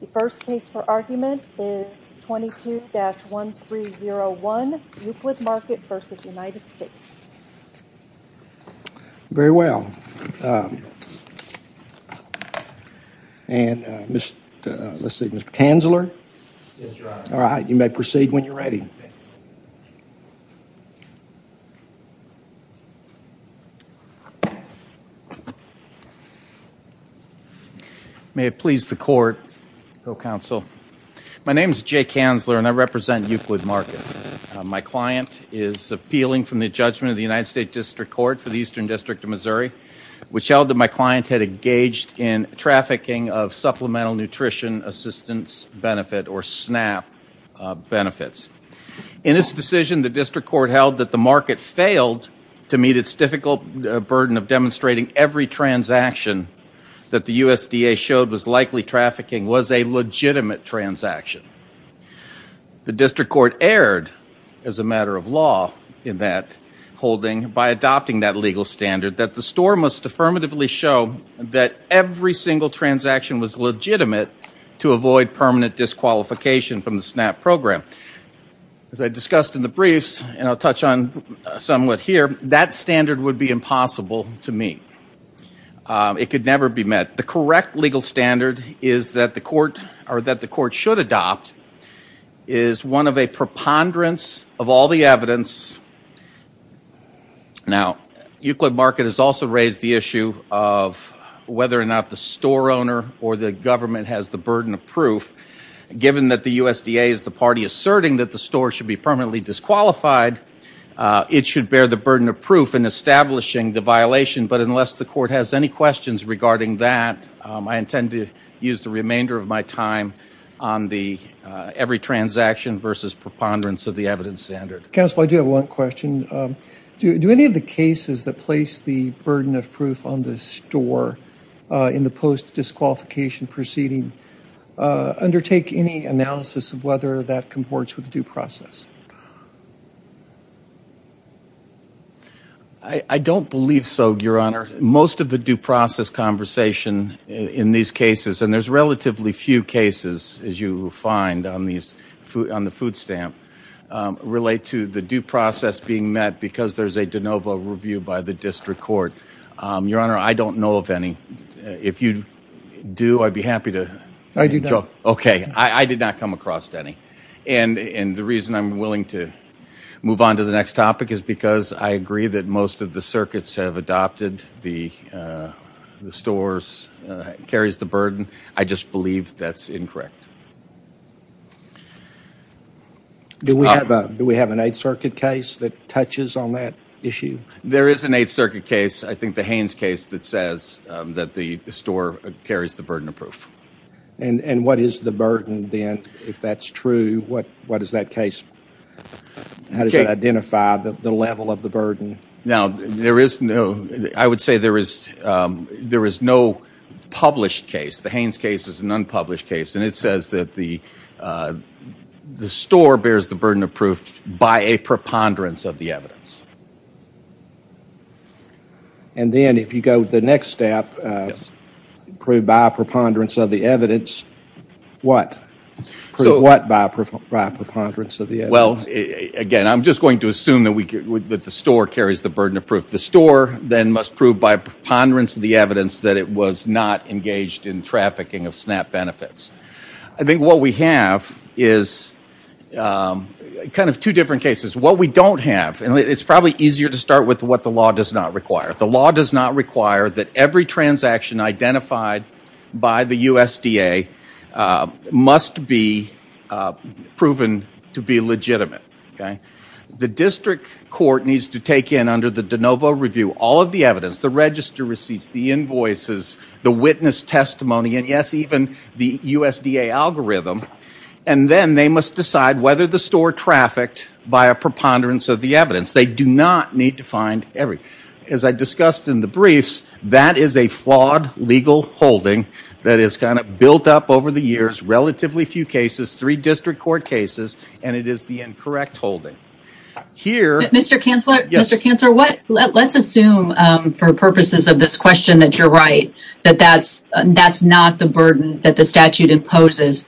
The first case for argument is 22-1301, Euclid Market v. United States Very well And, let's see, Mr. Kanzler? Yes, Your Honor May it please the Court, Hill Counsel, my name is Jay Kanzler and I represent Euclid Market. My client is appealing from the judgment of the United States District Court for the Eastern District of Missouri, which held that my client had engaged in trafficking of Supplemental Nutrition Assistance Benefit or SNAP benefits. In its decision, the District Court held that the market failed to meet its difficult burden of demonstrating every transaction that the USDA showed was likely trafficking was a legitimate transaction. The District Court erred, as a matter of law in that holding, by adopting that legal standard that the store must affirmatively show that every single transaction was legitimate to avoid permanent disqualification from the SNAP program. As I discussed in the briefs, and I'll touch on somewhat here, that standard would be impossible to meet. It could never be met. The correct legal standard is that the Court, or that the Court should adopt, is one of a preponderance of all the evidence. Now, Euclid Market has also raised the issue of whether or not the store owner or the government has the burden of proof. Given that the USDA is the party asserting that the store should be permanently disqualified, it should bear the burden of proof in establishing the violation. But unless the Court has any questions regarding that, I intend to use the remainder of my time on the every transaction versus preponderance of the evidence standard. Counsel, I do have one question. Do any of the cases that place the burden of proof on the store in the post-disqualification proceeding undertake any analysis of whether that comports with due process? I don't believe so, Your Honor. Most of the due process conversation in these cases, and there's relatively few cases, as you find on the food stamp, relate to the due process being met because there's a de novo review by the District Court. Your Honor, I don't know of any. If you do, I'd be happy to— I do not. Okay. I did not come across any. And the reason I'm willing to move on to the next topic is because I agree that most of the circuits have adopted the stores carries the burden. I just believe that's incorrect. Do we have an Eighth Circuit case that touches on that issue? There is an Eighth Circuit case, I think the Haynes case, that says that the store carries the burden of proof. And what is the burden, then, if that's true? What does that case—how does it identify the level of the burden? Now, there is no—I would say there is no published case. The Haynes case is an unpublished case, and it says that the store bears the burden of proof by a preponderance of the evidence. And then, if you go to the next step, prove by a preponderance of the evidence, what? Prove what by a preponderance of the evidence? Well, again, I'm just going to assume that the store carries the burden of proof. The store, then, must prove by a preponderance of the evidence that it was not engaged in trafficking of SNAP benefits. I think what we have is kind of two different cases. What we don't have—and it's probably easier to start with what the law does not require. The law does not require that every transaction identified by the USDA must be proven to be legitimate. The district court needs to take in, under the de novo review, all of the evidence—the register receipts, the invoices, the witness testimony, and, yes, even the USDA algorithm. And then they must decide whether the store trafficked by a preponderance of the evidence. They do not need to find every—as I discussed in the briefs, that is a flawed legal holding that is kind of built up over the years. Relatively few cases, three district court cases, and it is the incorrect holding. Mr. Kanzler? Mr. Kanzler, let's assume, for purposes of this question, that you're right, that that's not the burden that the statute imposes.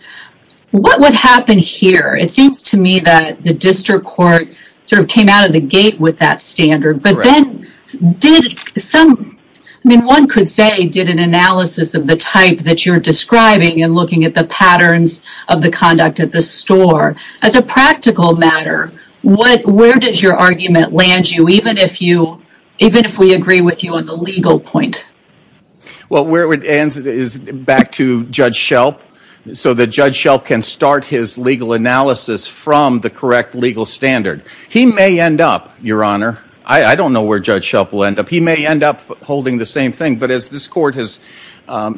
What would happen here? It seems to me that the district court sort of came out of the gate with that standard, but then did some— I mean, one could say did an analysis of the type that you're describing and looking at the patterns of the conduct at the store. As a practical matter, where does your argument land you, even if we agree with you on the legal point? Well, where it ends is back to Judge Shelp, so that Judge Shelp can start his legal analysis from the correct legal standard. He may end up, Your Honor—I don't know where Judge Shelp will end up—he may end up holding the same thing. But as this Court has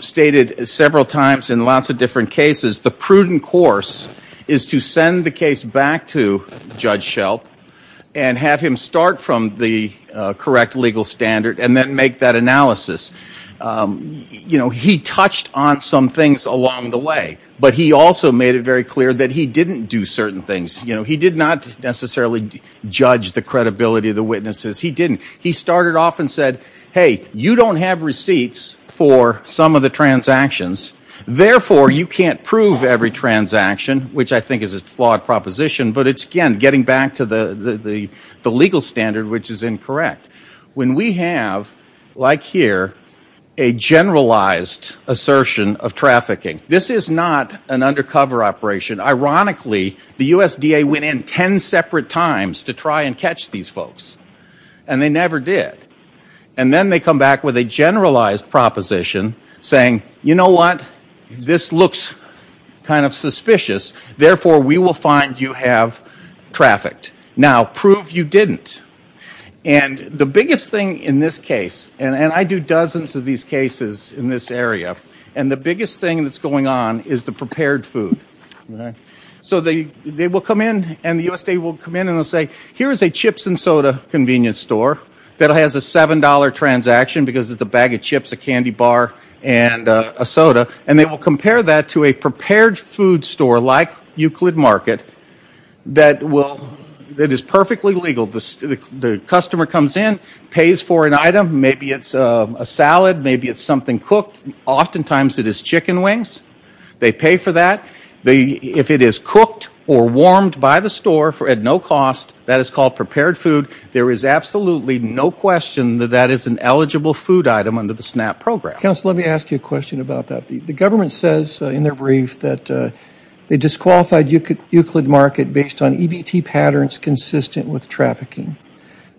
stated several times in lots of different cases, the prudent course is to send the case back to Judge Shelp and have him start from the correct legal standard and then make that analysis. You know, he touched on some things along the way, but he also made it very clear that he didn't do certain things. You know, he did not necessarily judge the credibility of the witnesses. He didn't. He started off and said, hey, you don't have receipts for some of the transactions. Therefore, you can't prove every transaction, which I think is a flawed proposition. But it's, again, getting back to the legal standard, which is incorrect. When we have, like here, a generalized assertion of trafficking, this is not an undercover operation. Ironically, the USDA went in ten separate times to try and catch these folks, and they never did. And then they come back with a generalized proposition saying, you know what? This looks kind of suspicious. Therefore, we will find you have trafficked. Now, prove you didn't. And the biggest thing in this case—and I do dozens of these cases in this area— and the biggest thing that's going on is the prepared food. So they will come in, and the USDA will come in and they'll say, here is a chips and soda convenience store that has a $7 transaction because it's a bag of chips, a candy bar, and a soda. And they will compare that to a prepared food store like Euclid Market that is perfectly legal. The customer comes in, pays for an item. Maybe it's a salad. Maybe it's something cooked. Oftentimes it is chicken wings. They pay for that. If it is cooked or warmed by the store at no cost, that is called prepared food. There is absolutely no question that that is an eligible food item under the SNAP program. Counsel, let me ask you a question about that. The government says in their brief that they disqualified Euclid Market based on EBT patterns consistent with trafficking.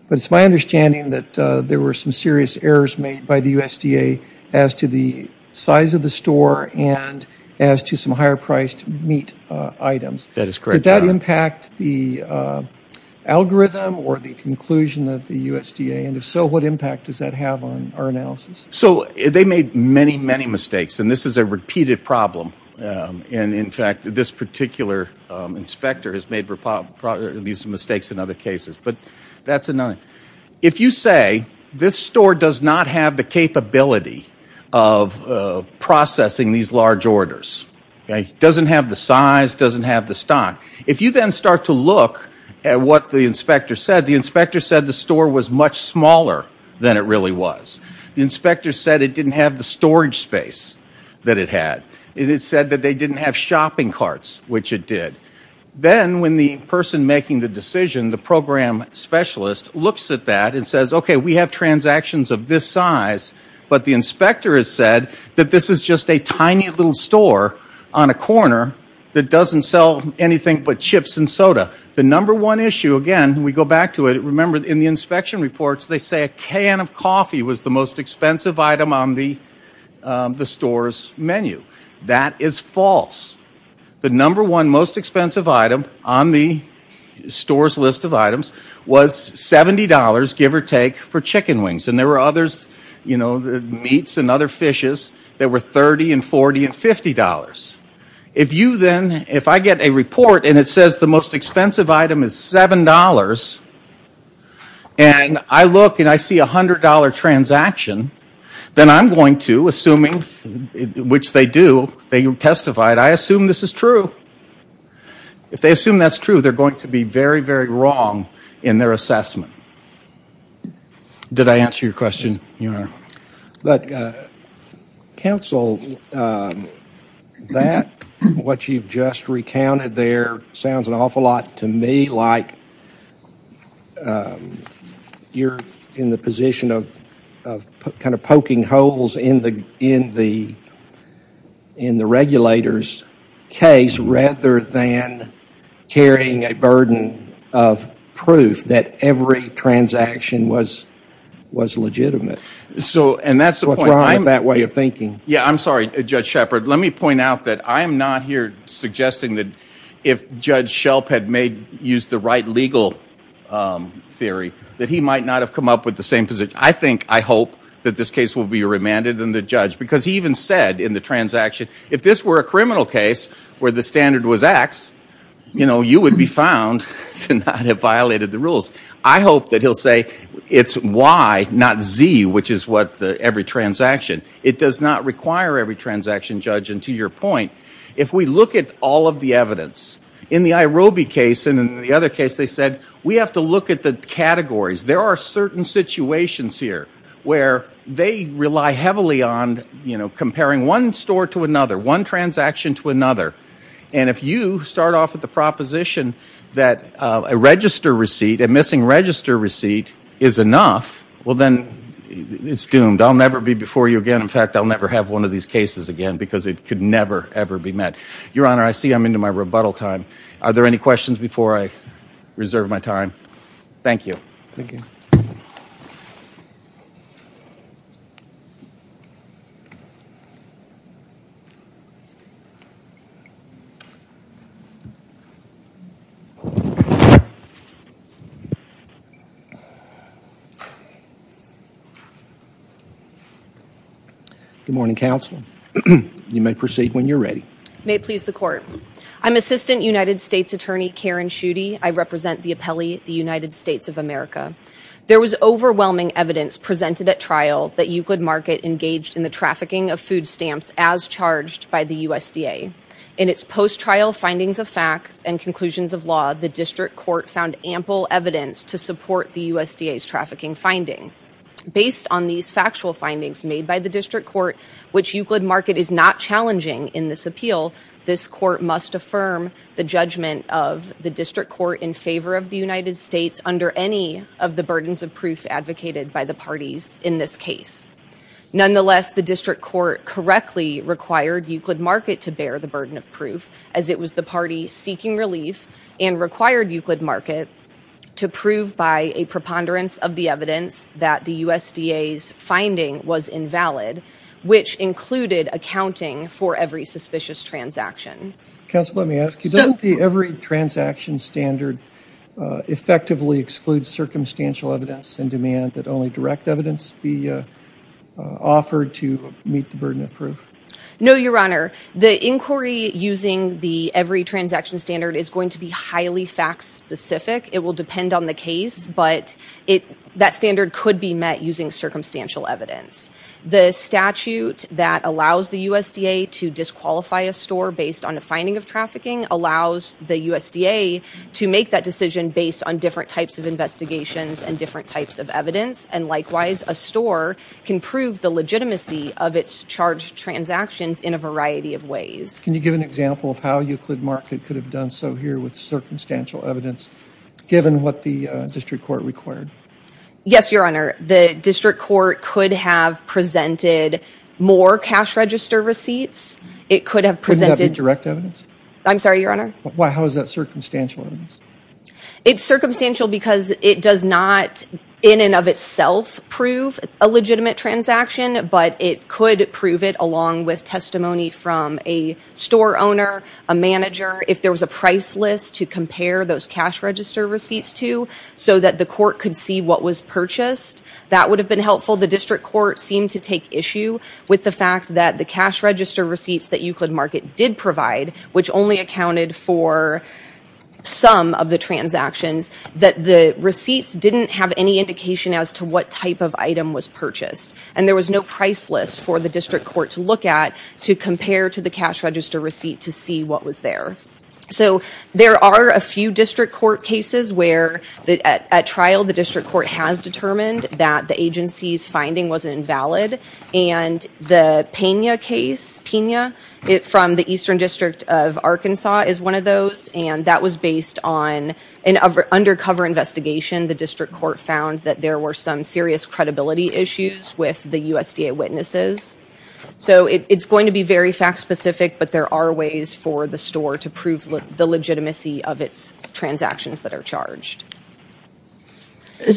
But it's my understanding that there were some serious errors made by the USDA as to the size of the store and as to some higher-priced meat items. That is correct. Did that impact the algorithm or the conclusion of the USDA? And if so, what impact does that have on our analysis? So they made many, many mistakes, and this is a repeated problem. And, in fact, this particular inspector has made these mistakes in other cases. If you say this store does not have the capability of processing these large orders, doesn't have the size, doesn't have the stock, if you then start to look at what the inspector said, the inspector said the store was much smaller than it really was. The inspector said it didn't have the storage space that it had. It said that they didn't have shopping carts, which it did. Then when the person making the decision, the program specialist, looks at that and says, okay, we have transactions of this size, but the inspector has said that this is just a tiny little store on a corner that doesn't sell anything but chips and soda. The number one issue, again, we go back to it. Remember, in the inspection reports, they say a can of coffee was the most expensive item on the store's menu. That is false. The number one most expensive item on the store's list of items was $70, give or take, for chicken wings. And there were others, you know, meats and other fishes that were $30 and $40 and $50. If you then, if I get a report and it says the most expensive item is $7, and I look and I see a $100 transaction, then I'm going to, assuming, which they do, they testified, I assume this is true. If they assume that's true, they're going to be very, very wrong in their assessment. Did I answer your question, Your Honor? But, counsel, that, what you've just recounted there, sounds an awful lot to me, like you're in the position of kind of poking holes in the regulator's case rather than carrying a burden of proof that every transaction was legitimate. So, and that's the point. What's wrong with that way of thinking? Yeah, I'm sorry, Judge Shepard. Let me point out that I am not here suggesting that if Judge Shelp had made, used the right legal theory, that he might not have come up with the same position. I think, I hope, that this case will be remanded in the judge, because he even said in the transaction, if this were a criminal case where the standard was X, you know, you would be found to not have violated the rules. I hope that he'll say it's Y, not Z, which is what every transaction. It does not require every transaction, Judge, and to your point, if we look at all of the evidence, in the IROBI case and in the other case, they said, we have to look at the categories. There are certain situations here where they rely heavily on, you know, comparing one store to another, one transaction to another, and if you start off with the proposition that a register receipt, a missing register receipt is enough, well then, it's doomed. I'll never be before you again. In fact, I'll never have one of these cases again, because it could never, ever be met. Your Honor, I see I'm into my rebuttal time. Are there any questions before I reserve my time? Thank you. Thank you. Good morning, Counsel. You may proceed when you're ready. May it please the Court. I'm Assistant United States Attorney Karen Schutte. I represent the appellee, the United States of America. There was overwhelming evidence presented at trial that Euclid Market engaged in the trafficking of food stamps as charged by the USDA. In its post-trial findings of fact and conclusions of law, the District Court found ample evidence to support the USDA's trafficking finding. Based on these factual findings made by the District Court, which Euclid Market is not challenging in this appeal, this Court must affirm the judgment of the District Court in favor of the United States under any of the burdens of proof advocated by the parties in this case. Nonetheless, the District Court correctly required Euclid Market to bear the burden of proof, as it was the party seeking relief and required Euclid Market to prove by a preponderance of the evidence that the USDA's finding was invalid, which included accounting for every suspicious transaction. Counsel, let me ask you, doesn't the every transaction standard effectively exclude circumstantial evidence and demand that only direct evidence be offered to meet the burden of proof? No, Your Honor. The inquiry using the every transaction standard is going to be highly fact-specific. It will depend on the case, but that standard could be met using circumstantial evidence. The statute that allows the USDA to disqualify a store based on a finding of trafficking allows the USDA to make that decision based on different types of investigations and different types of evidence. And likewise, a store can prove the legitimacy of its charged transactions in a variety of ways. Can you give an example of how Euclid Market could have done so here with circumstantial evidence, given what the District Court required? Yes, Your Honor. The District Court could have presented more cash register receipts. It could have presented... Couldn't have been direct evidence? I'm sorry, Your Honor? How is that circumstantial evidence? It's circumstantial because it does not, in and of itself, prove a legitimate transaction, but it could prove it along with testimony from a store owner, a manager. If there was a price list to compare those cash register receipts to, so that the court could see what was purchased, that would have been helpful. The District Court seemed to take issue with the fact that the cash register receipts that Euclid Market did provide, which only accounted for some of the transactions, that the receipts didn't have any indication as to what type of item was purchased. And there was no price list for the District Court to look at to compare to the cash register receipt to see what was there. So there are a few District Court cases where, at trial, the District Court has determined that the agency's finding was invalid. And the Pena case, Pena, from the Eastern District of Arkansas, is one of those. And that was based on an undercover investigation. The District Court found that there were some serious credibility issues with the USDA witnesses. So it's going to be very fact-specific, but there are ways for the store to prove the legitimacy of its transactions that are charged.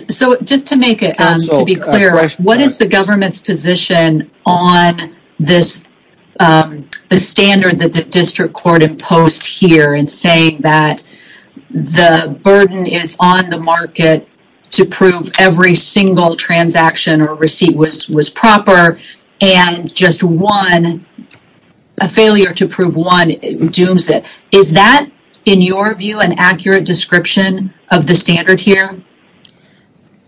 So just to make it clear, what is the government's position on this standard that the District Court imposed here in saying that the burden is on the market to prove every single transaction or receipt was proper, and just a failure to prove one dooms it. Is that, in your view, an accurate description of the standard here?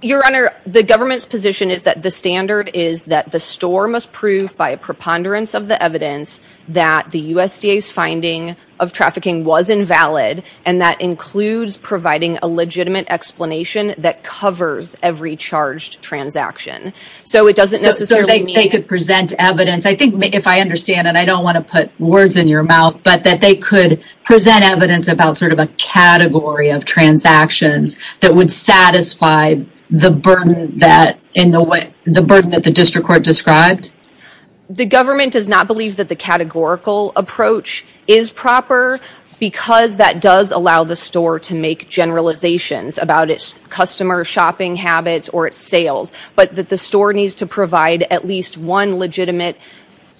Your Honor, the government's position is that the standard is that the store must prove, by a preponderance of the evidence, that the USDA's finding of trafficking was invalid, and that includes providing a legitimate explanation that covers every charged transaction. So it doesn't necessarily mean... So they could present evidence, I think, if I understand, and I don't want to put words in your mouth, but that they could present evidence about sort of a category of transactions that would satisfy the burden that the District Court described? The government does not believe that the categorical approach is proper, because that does allow the store to make generalizations about its customer shopping habits or its sales, but that the store needs to provide at least one legitimate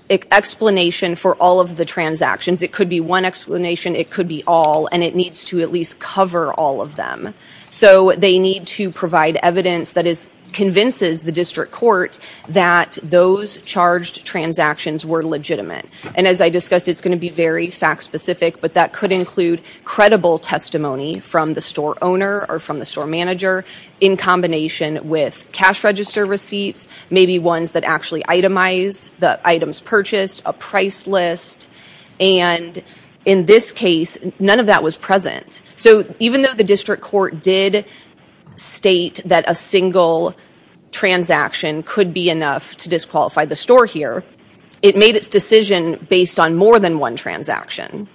explanation for all of the transactions. It could be one explanation, it could be all, and it needs to at least cover all of them. So they need to provide evidence that convinces the District Court that those charged transactions were legitimate. And as I discussed, it's going to be very fact-specific, but that could include credible testimony from the store owner or from the store manager, in combination with cash register receipts, maybe ones that actually itemize the items purchased, a price list, and in this case, none of that was present. So even though the District Court did state that a single transaction could be enough to disqualify the store here, it made its decision based on more than one transaction.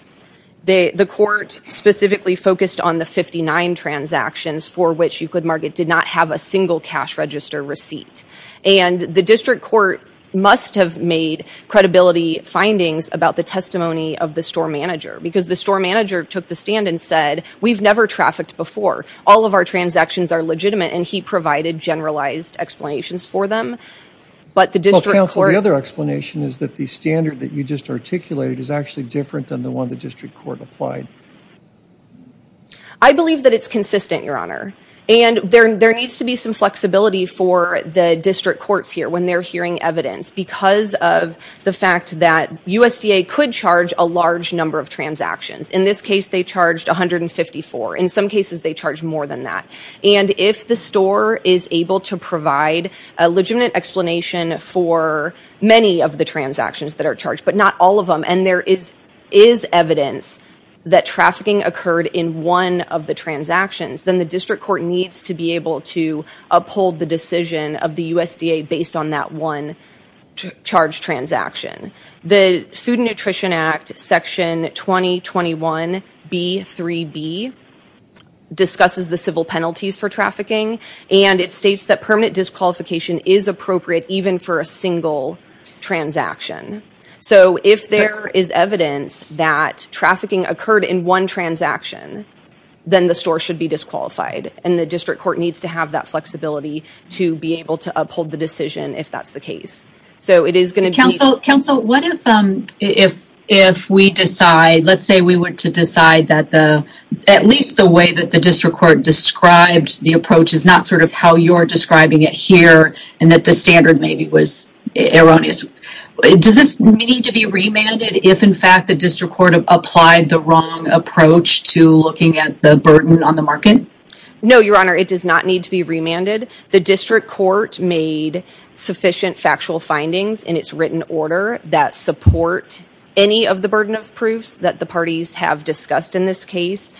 The court specifically focused on the 59 transactions for which Euclid Market did not have a single cash register receipt. And the District Court must have made credibility findings about the testimony of the store manager, because the store manager took the stand and said, we've never trafficked before, all of our transactions are legitimate, and he provided generalized explanations for them. But the District Court... Well, Counsel, the other explanation is that the standard that you just articulated is actually different than the one the District Court applied. I believe that it's consistent, Your Honor. And there needs to be some flexibility for the District Courts here when they're hearing evidence, because of the fact that USDA could charge a large number of transactions. In this case, they charged 154. In some cases, they charge more than that. And if the store is able to provide a legitimate explanation for many of the transactions that are charged, but not all of them, and there is evidence that trafficking occurred in one of the transactions, then the District Court needs to be able to uphold the decision of the USDA based on that one charge transaction. The Food and Nutrition Act, Section 2021B3B, discusses the civil penalties for trafficking, and it states that permanent disqualification is appropriate even for a single transaction. So if there is evidence that trafficking occurred in one transaction, then the store should be disqualified, and the District Court needs to have that flexibility to be able to uphold the decision if that's the case. So it is going to be... Counsel, what if we decide... Let's say we were to decide that at least the way that the District Court described the approach is not sort of how you're describing it here, and that the standard maybe was erroneous. Does this need to be remanded if, in fact, the District Court applied the wrong approach to looking at the burden on the market? No, Your Honor, it does not need to be remanded. The District Court made sufficient factual findings in its written order that support any of the burden of proofs that the parties have discussed in this case.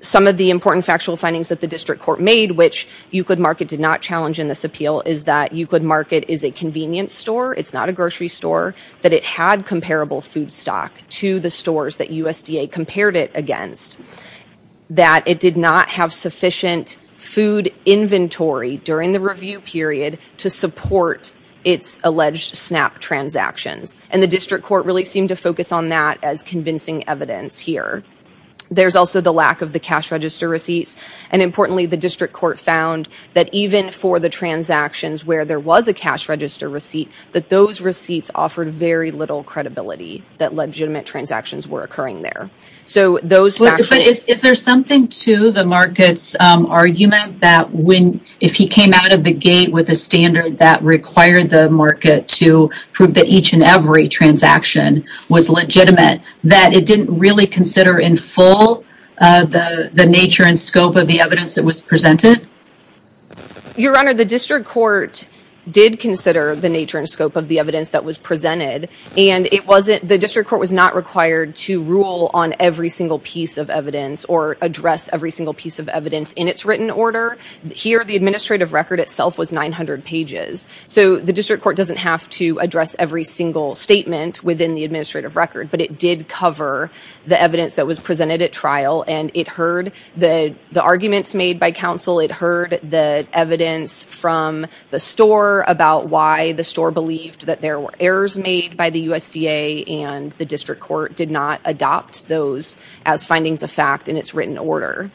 Some of the important factual findings that the District Court made, which UCLID Market did not challenge in this appeal, is that UCLID Market is a convenience store. It's not a grocery store. That it had comparable food stock to the stores that USDA compared it against. That it did not have sufficient food inventory during the review period to support its alleged SNAP transactions, and the District Court really seemed to focus on that as convincing evidence here. There's also the lack of the cash register receipts, and importantly, the District Court found that even for the transactions where there was a cash register receipt, that those receipts offered very little credibility that legitimate transactions were occurring there. Is there something to the market's argument that if he came out of the gate with a standard that required the market to prove that each and every transaction was legitimate, that it didn't really consider in full the nature and scope of the evidence that was presented? Your Honor, the District Court did consider the nature and scope of the evidence that was presented, and the District Court was not required to rule on every single piece of evidence or address every single piece of evidence in its written order. Here, the administrative record itself was 900 pages, so the District Court doesn't have to address every single statement within the administrative record, but it did cover the evidence that was presented at trial, and it heard the arguments made by counsel, it heard the evidence from the store about why the store believed that there were errors made by the USDA, and the District Court did not adopt those as findings of fact in its written order.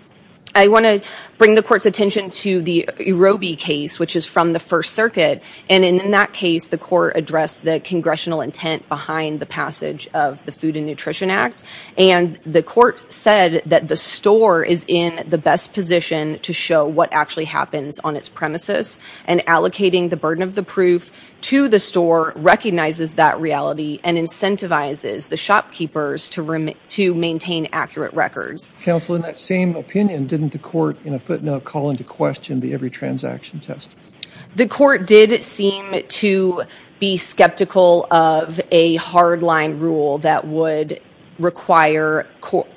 I want to bring the Court's attention to the Urobie case, which is from the First Circuit, and in that case, the Court addressed the Congressional intent behind the passage of the Food and Nutrition Act, and the Court said that the store is in the best position to show what actually happens on its premises, and allocating the burden of the proof to the store recognizes that reality and incentivizes the shopkeepers to maintain accurate records. Counsel, in that same opinion, didn't the Court in a footnote call into question the every transaction test? The Court did seem to be skeptical of a hardline rule that would require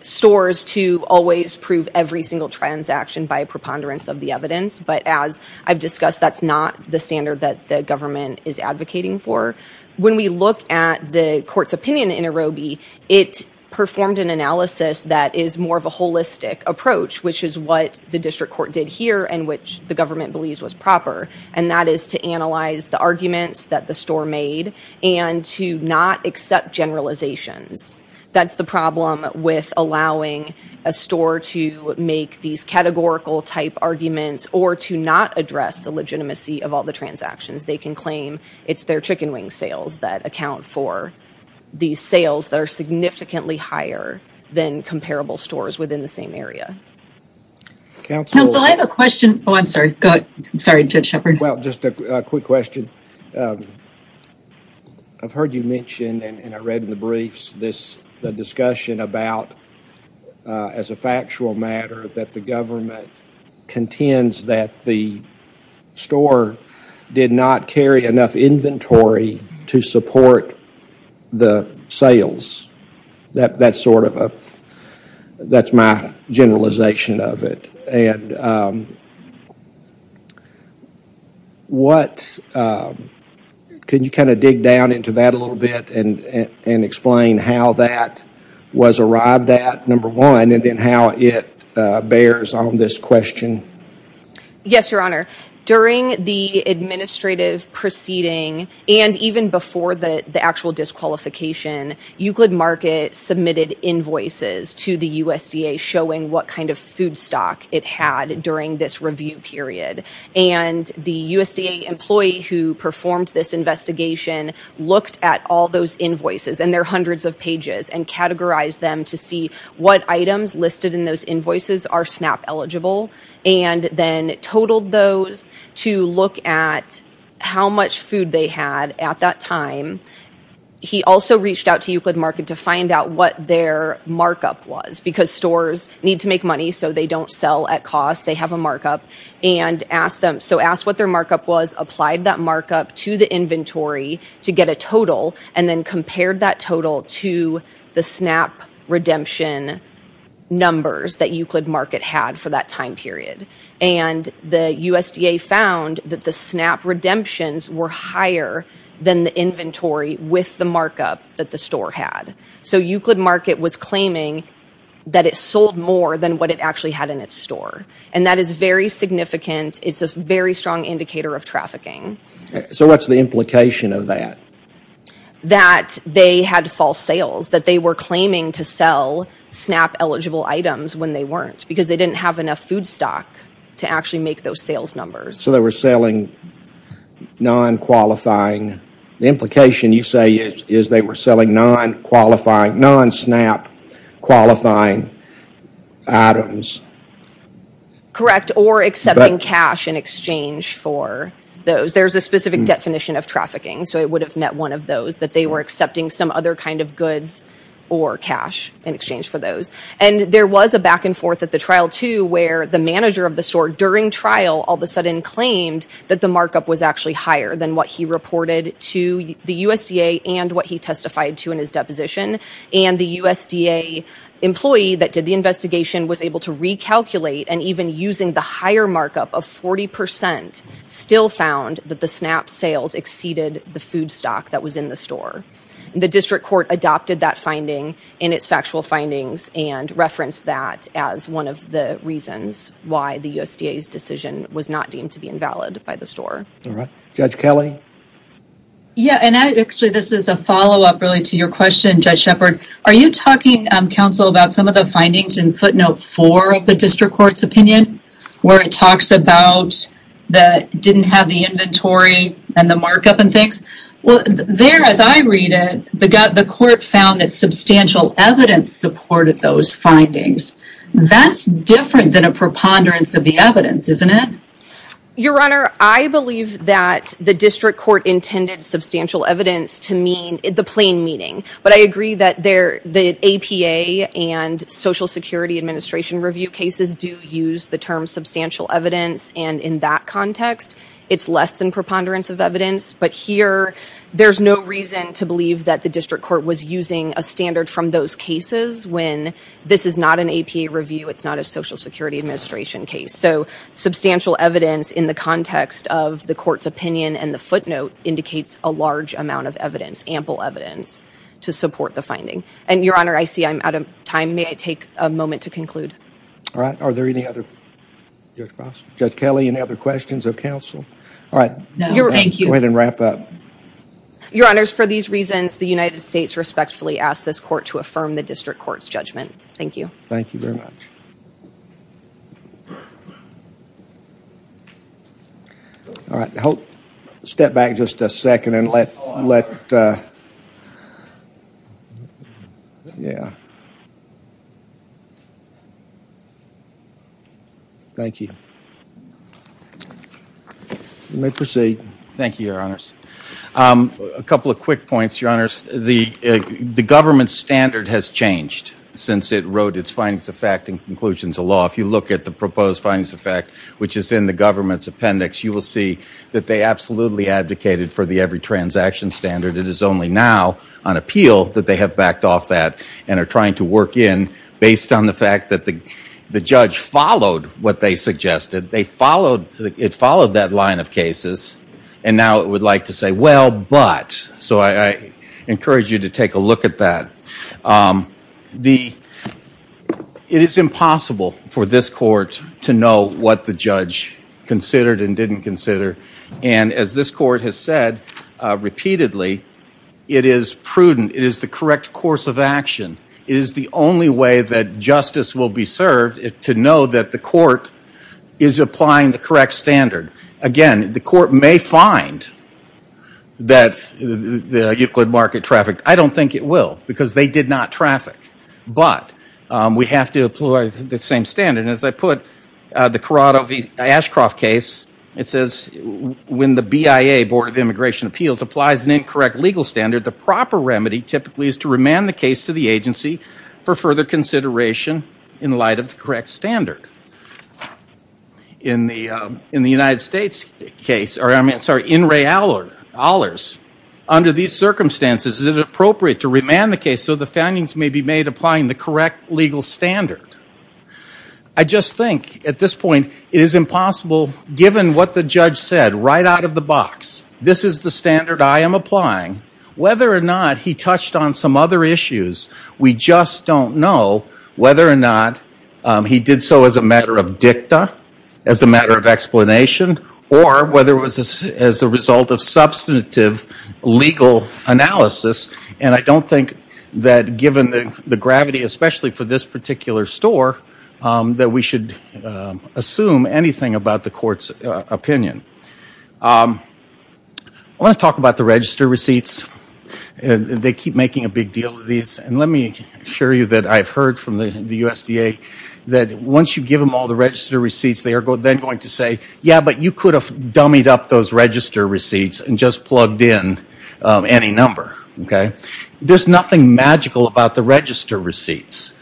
stores to always prove every single transaction by preponderance of the evidence, but as I've discussed, that's not the standard that the government is advocating for. When we look at the Court's opinion in Urobie, it performed an analysis that is more of a holistic approach, which is what the District Court did here and which the government believes was proper, and that is to analyze the arguments that the store made and to not accept generalizations. That's the problem with allowing a store to make these categorical type arguments or to not address the legitimacy of all the transactions. They can claim it's their chicken wing sales that account for these sales that are significantly higher than comparable stores within the same area. Counsel, I have a question. Oh, I'm sorry. Go ahead. I'm sorry, Judge Shepard. Well, just a quick question. I've heard you mention, and I read in the briefs, the discussion about, as a factual matter, that the government contends that the store did not carry enough inventory to support the sales. That's sort of a, that's my generalization of it. And what, can you kind of dig down into that a little bit and explain how that was arrived at, number one, and then how it bears on this question? Yes, Your Honor. During the administrative proceeding and even before the actual disqualification, Euclid Market submitted invoices to the USDA showing what kind of food stock it had during this review period. And the USDA employee who performed this investigation looked at all those invoices, and they're hundreds of pages, and categorized them to see what items listed in those invoices are SNAP-eligible, and then totaled those to look at how much food they had at that time. He also reached out to Euclid Market to find out what their markup was because stores need to make money, so they don't sell at cost. They have a markup. And asked them, so asked what their markup was, applied that markup to the inventory to get a total, and then compared that total to the SNAP redemption numbers that Euclid Market had for that time period. And the USDA found that the SNAP redemptions were higher than the inventory with the markup that the store had. So Euclid Market was claiming that it sold more than what it actually had in its store. And that is very significant. It's a very strong indicator of trafficking. So what's the implication of that? That they had false sales, that they were claiming to sell SNAP-eligible items when they weren't, because they didn't have enough food stock to actually make those sales numbers. So they were selling non-qualifying... The implication, you say, is they were selling non-SNAP-qualifying items. Correct. Or accepting cash in exchange for those. There's a specific definition of trafficking, so it would have met one of those, that they were accepting some other kind of goods or cash in exchange for those. And there was a back and forth at the trial, too, where the manager of the store during trial all of a sudden claimed that the markup was actually higher than what he reported to the USDA and what he testified to in his deposition. And the USDA employee that did the investigation was able to recalculate, and even using the higher markup of 40%, still found that the SNAP sales exceeded the food stock that was in the store. The district court adopted that finding in its factual findings and referenced that as one of the reasons why the USDA's decision was not deemed to be invalid by the store. All right. Judge Kelley? Yeah, and actually this is a follow-up really to your question, Judge Shepard. Are you talking, counsel, about some of the findings in footnote 4 of the district court's opinion, where it talks about that it didn't have the inventory and the markup and things? Well, there, as I read it, the court found that substantial evidence supported those findings. That's different than a preponderance of the evidence, isn't it? Your Honor, I believe that the district court intended substantial evidence to mean the plain meaning. But I agree that the APA and Social Security Administration review cases do use the term substantial evidence, and in that context, it's less than preponderance of evidence. But here, there's no reason to believe that the district court was using a standard from those cases when this is not an APA review, it's not a Social Security Administration case. So substantial evidence in the context of the court's opinion and the footnote indicates a large amount of evidence, ample evidence, to support the finding. And, Your Honor, I see I'm out of time. May I take a moment to conclude? All right. Are there any other... Judge Ross? Judge Kelly, any other questions of counsel? All right. Go ahead and wrap up. Your Honors, for these reasons, the United States respectfully asks this court to affirm the district court's judgment. Thank you. Thank you very much. All right. I hope... Step back just a second and let... Yeah. Thank you. You may proceed. Thank you, Your Honors. A couple of quick points, Your Honors. The government standard has changed since it wrote its findings of fact and conclusions of law. If you look at the proposed findings of fact, which is in the government's appendix, you will see that they absolutely advocated for the every transaction standard. It is only now, on appeal, that they have backed off that and are trying to work in based on the fact that the judge followed what they suggested. They followed... It followed that line of cases and now it would like to say, well, but... So I encourage you to take a look at that. The... It is impossible for this court to know what the judge considered and didn't consider. And as this court has said repeatedly, it is prudent. It is the correct course of action. It is the only way that justice will be served to know that the court is applying the correct standard. Again, the court may find that the Euclid market traffic... I don't think it will because they did not traffic. But we have to apply the same standard. And as I put, the Corrado v. Ashcroft case, it says, when the BIA, Board of Immigration Appeals, applies an incorrect legal standard, the proper remedy typically is to remand the case to the agency for further consideration in light of the correct standard. In the United States case, or I'm sorry, in Ray Allers, under these circumstances, it is appropriate to remand the case so the findings may be made applying the correct legal standard. I just think, at this point, it is impossible, given what the judge said, right out of the box, this is the standard I am applying. Whether or not he touched on some other issues, we just don't know whether or not he did so as a matter of dicta, as a matter of explanation, or whether it was as a result of substantive legal analysis. And I don't think that, given the gravity, especially for this particular store, that we should assume anything about the court's opinion. I want to talk about the register receipts. They keep making a big deal of these. And let me assure you that I've heard from the USDA that once you give them all the register receipts, they are then going to say, yeah, but you could have taken those register receipts and just plugged in any number. There's nothing magical about the register receipts.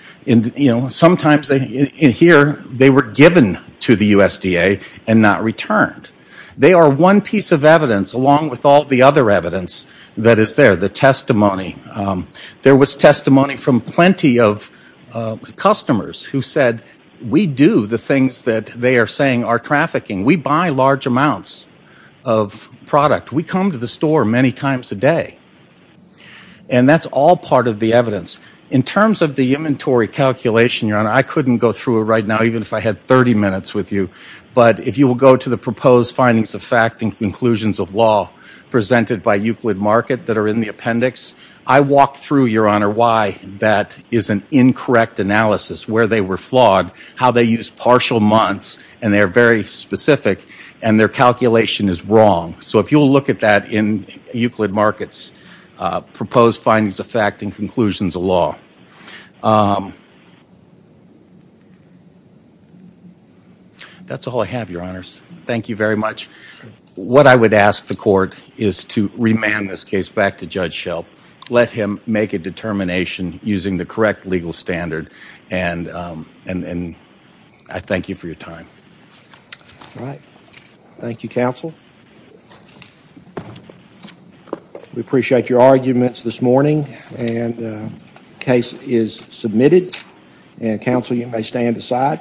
Sometimes, in here, they were given to the USDA and not returned. They are one piece of evidence, along with all the other evidence that is there, the testimony. There was testimony from plenty of customers who said, we do the things that they are saying are trafficking. We buy large amounts of product. We come to the store many times a day. And that's all part of the evidence. In terms of the inventory calculation, Your Honor, I couldn't go through it right now even if I had 30 minutes with you. But if you will go to the proposed findings of fact and conclusions of law presented by Euclid Market that are in the appendix, I walked through, Your Honor, why that is an incorrect analysis, where they were flawed, how they use partial months, and they are very specific, and their calculation is wrong. So if you will look at that in Euclid Market's proposed findings of fact and conclusions of law. That's all I have, Your Honors. Thank you very much. What I would ask the Court is to remand this case back to Judge Shelp, let him make a determination using the correct legal standard, and I thank you for your time. All right. Thank you, Counsel. We appreciate your arguments this morning. And the case is submitted. And, Counsel, you may stand aside.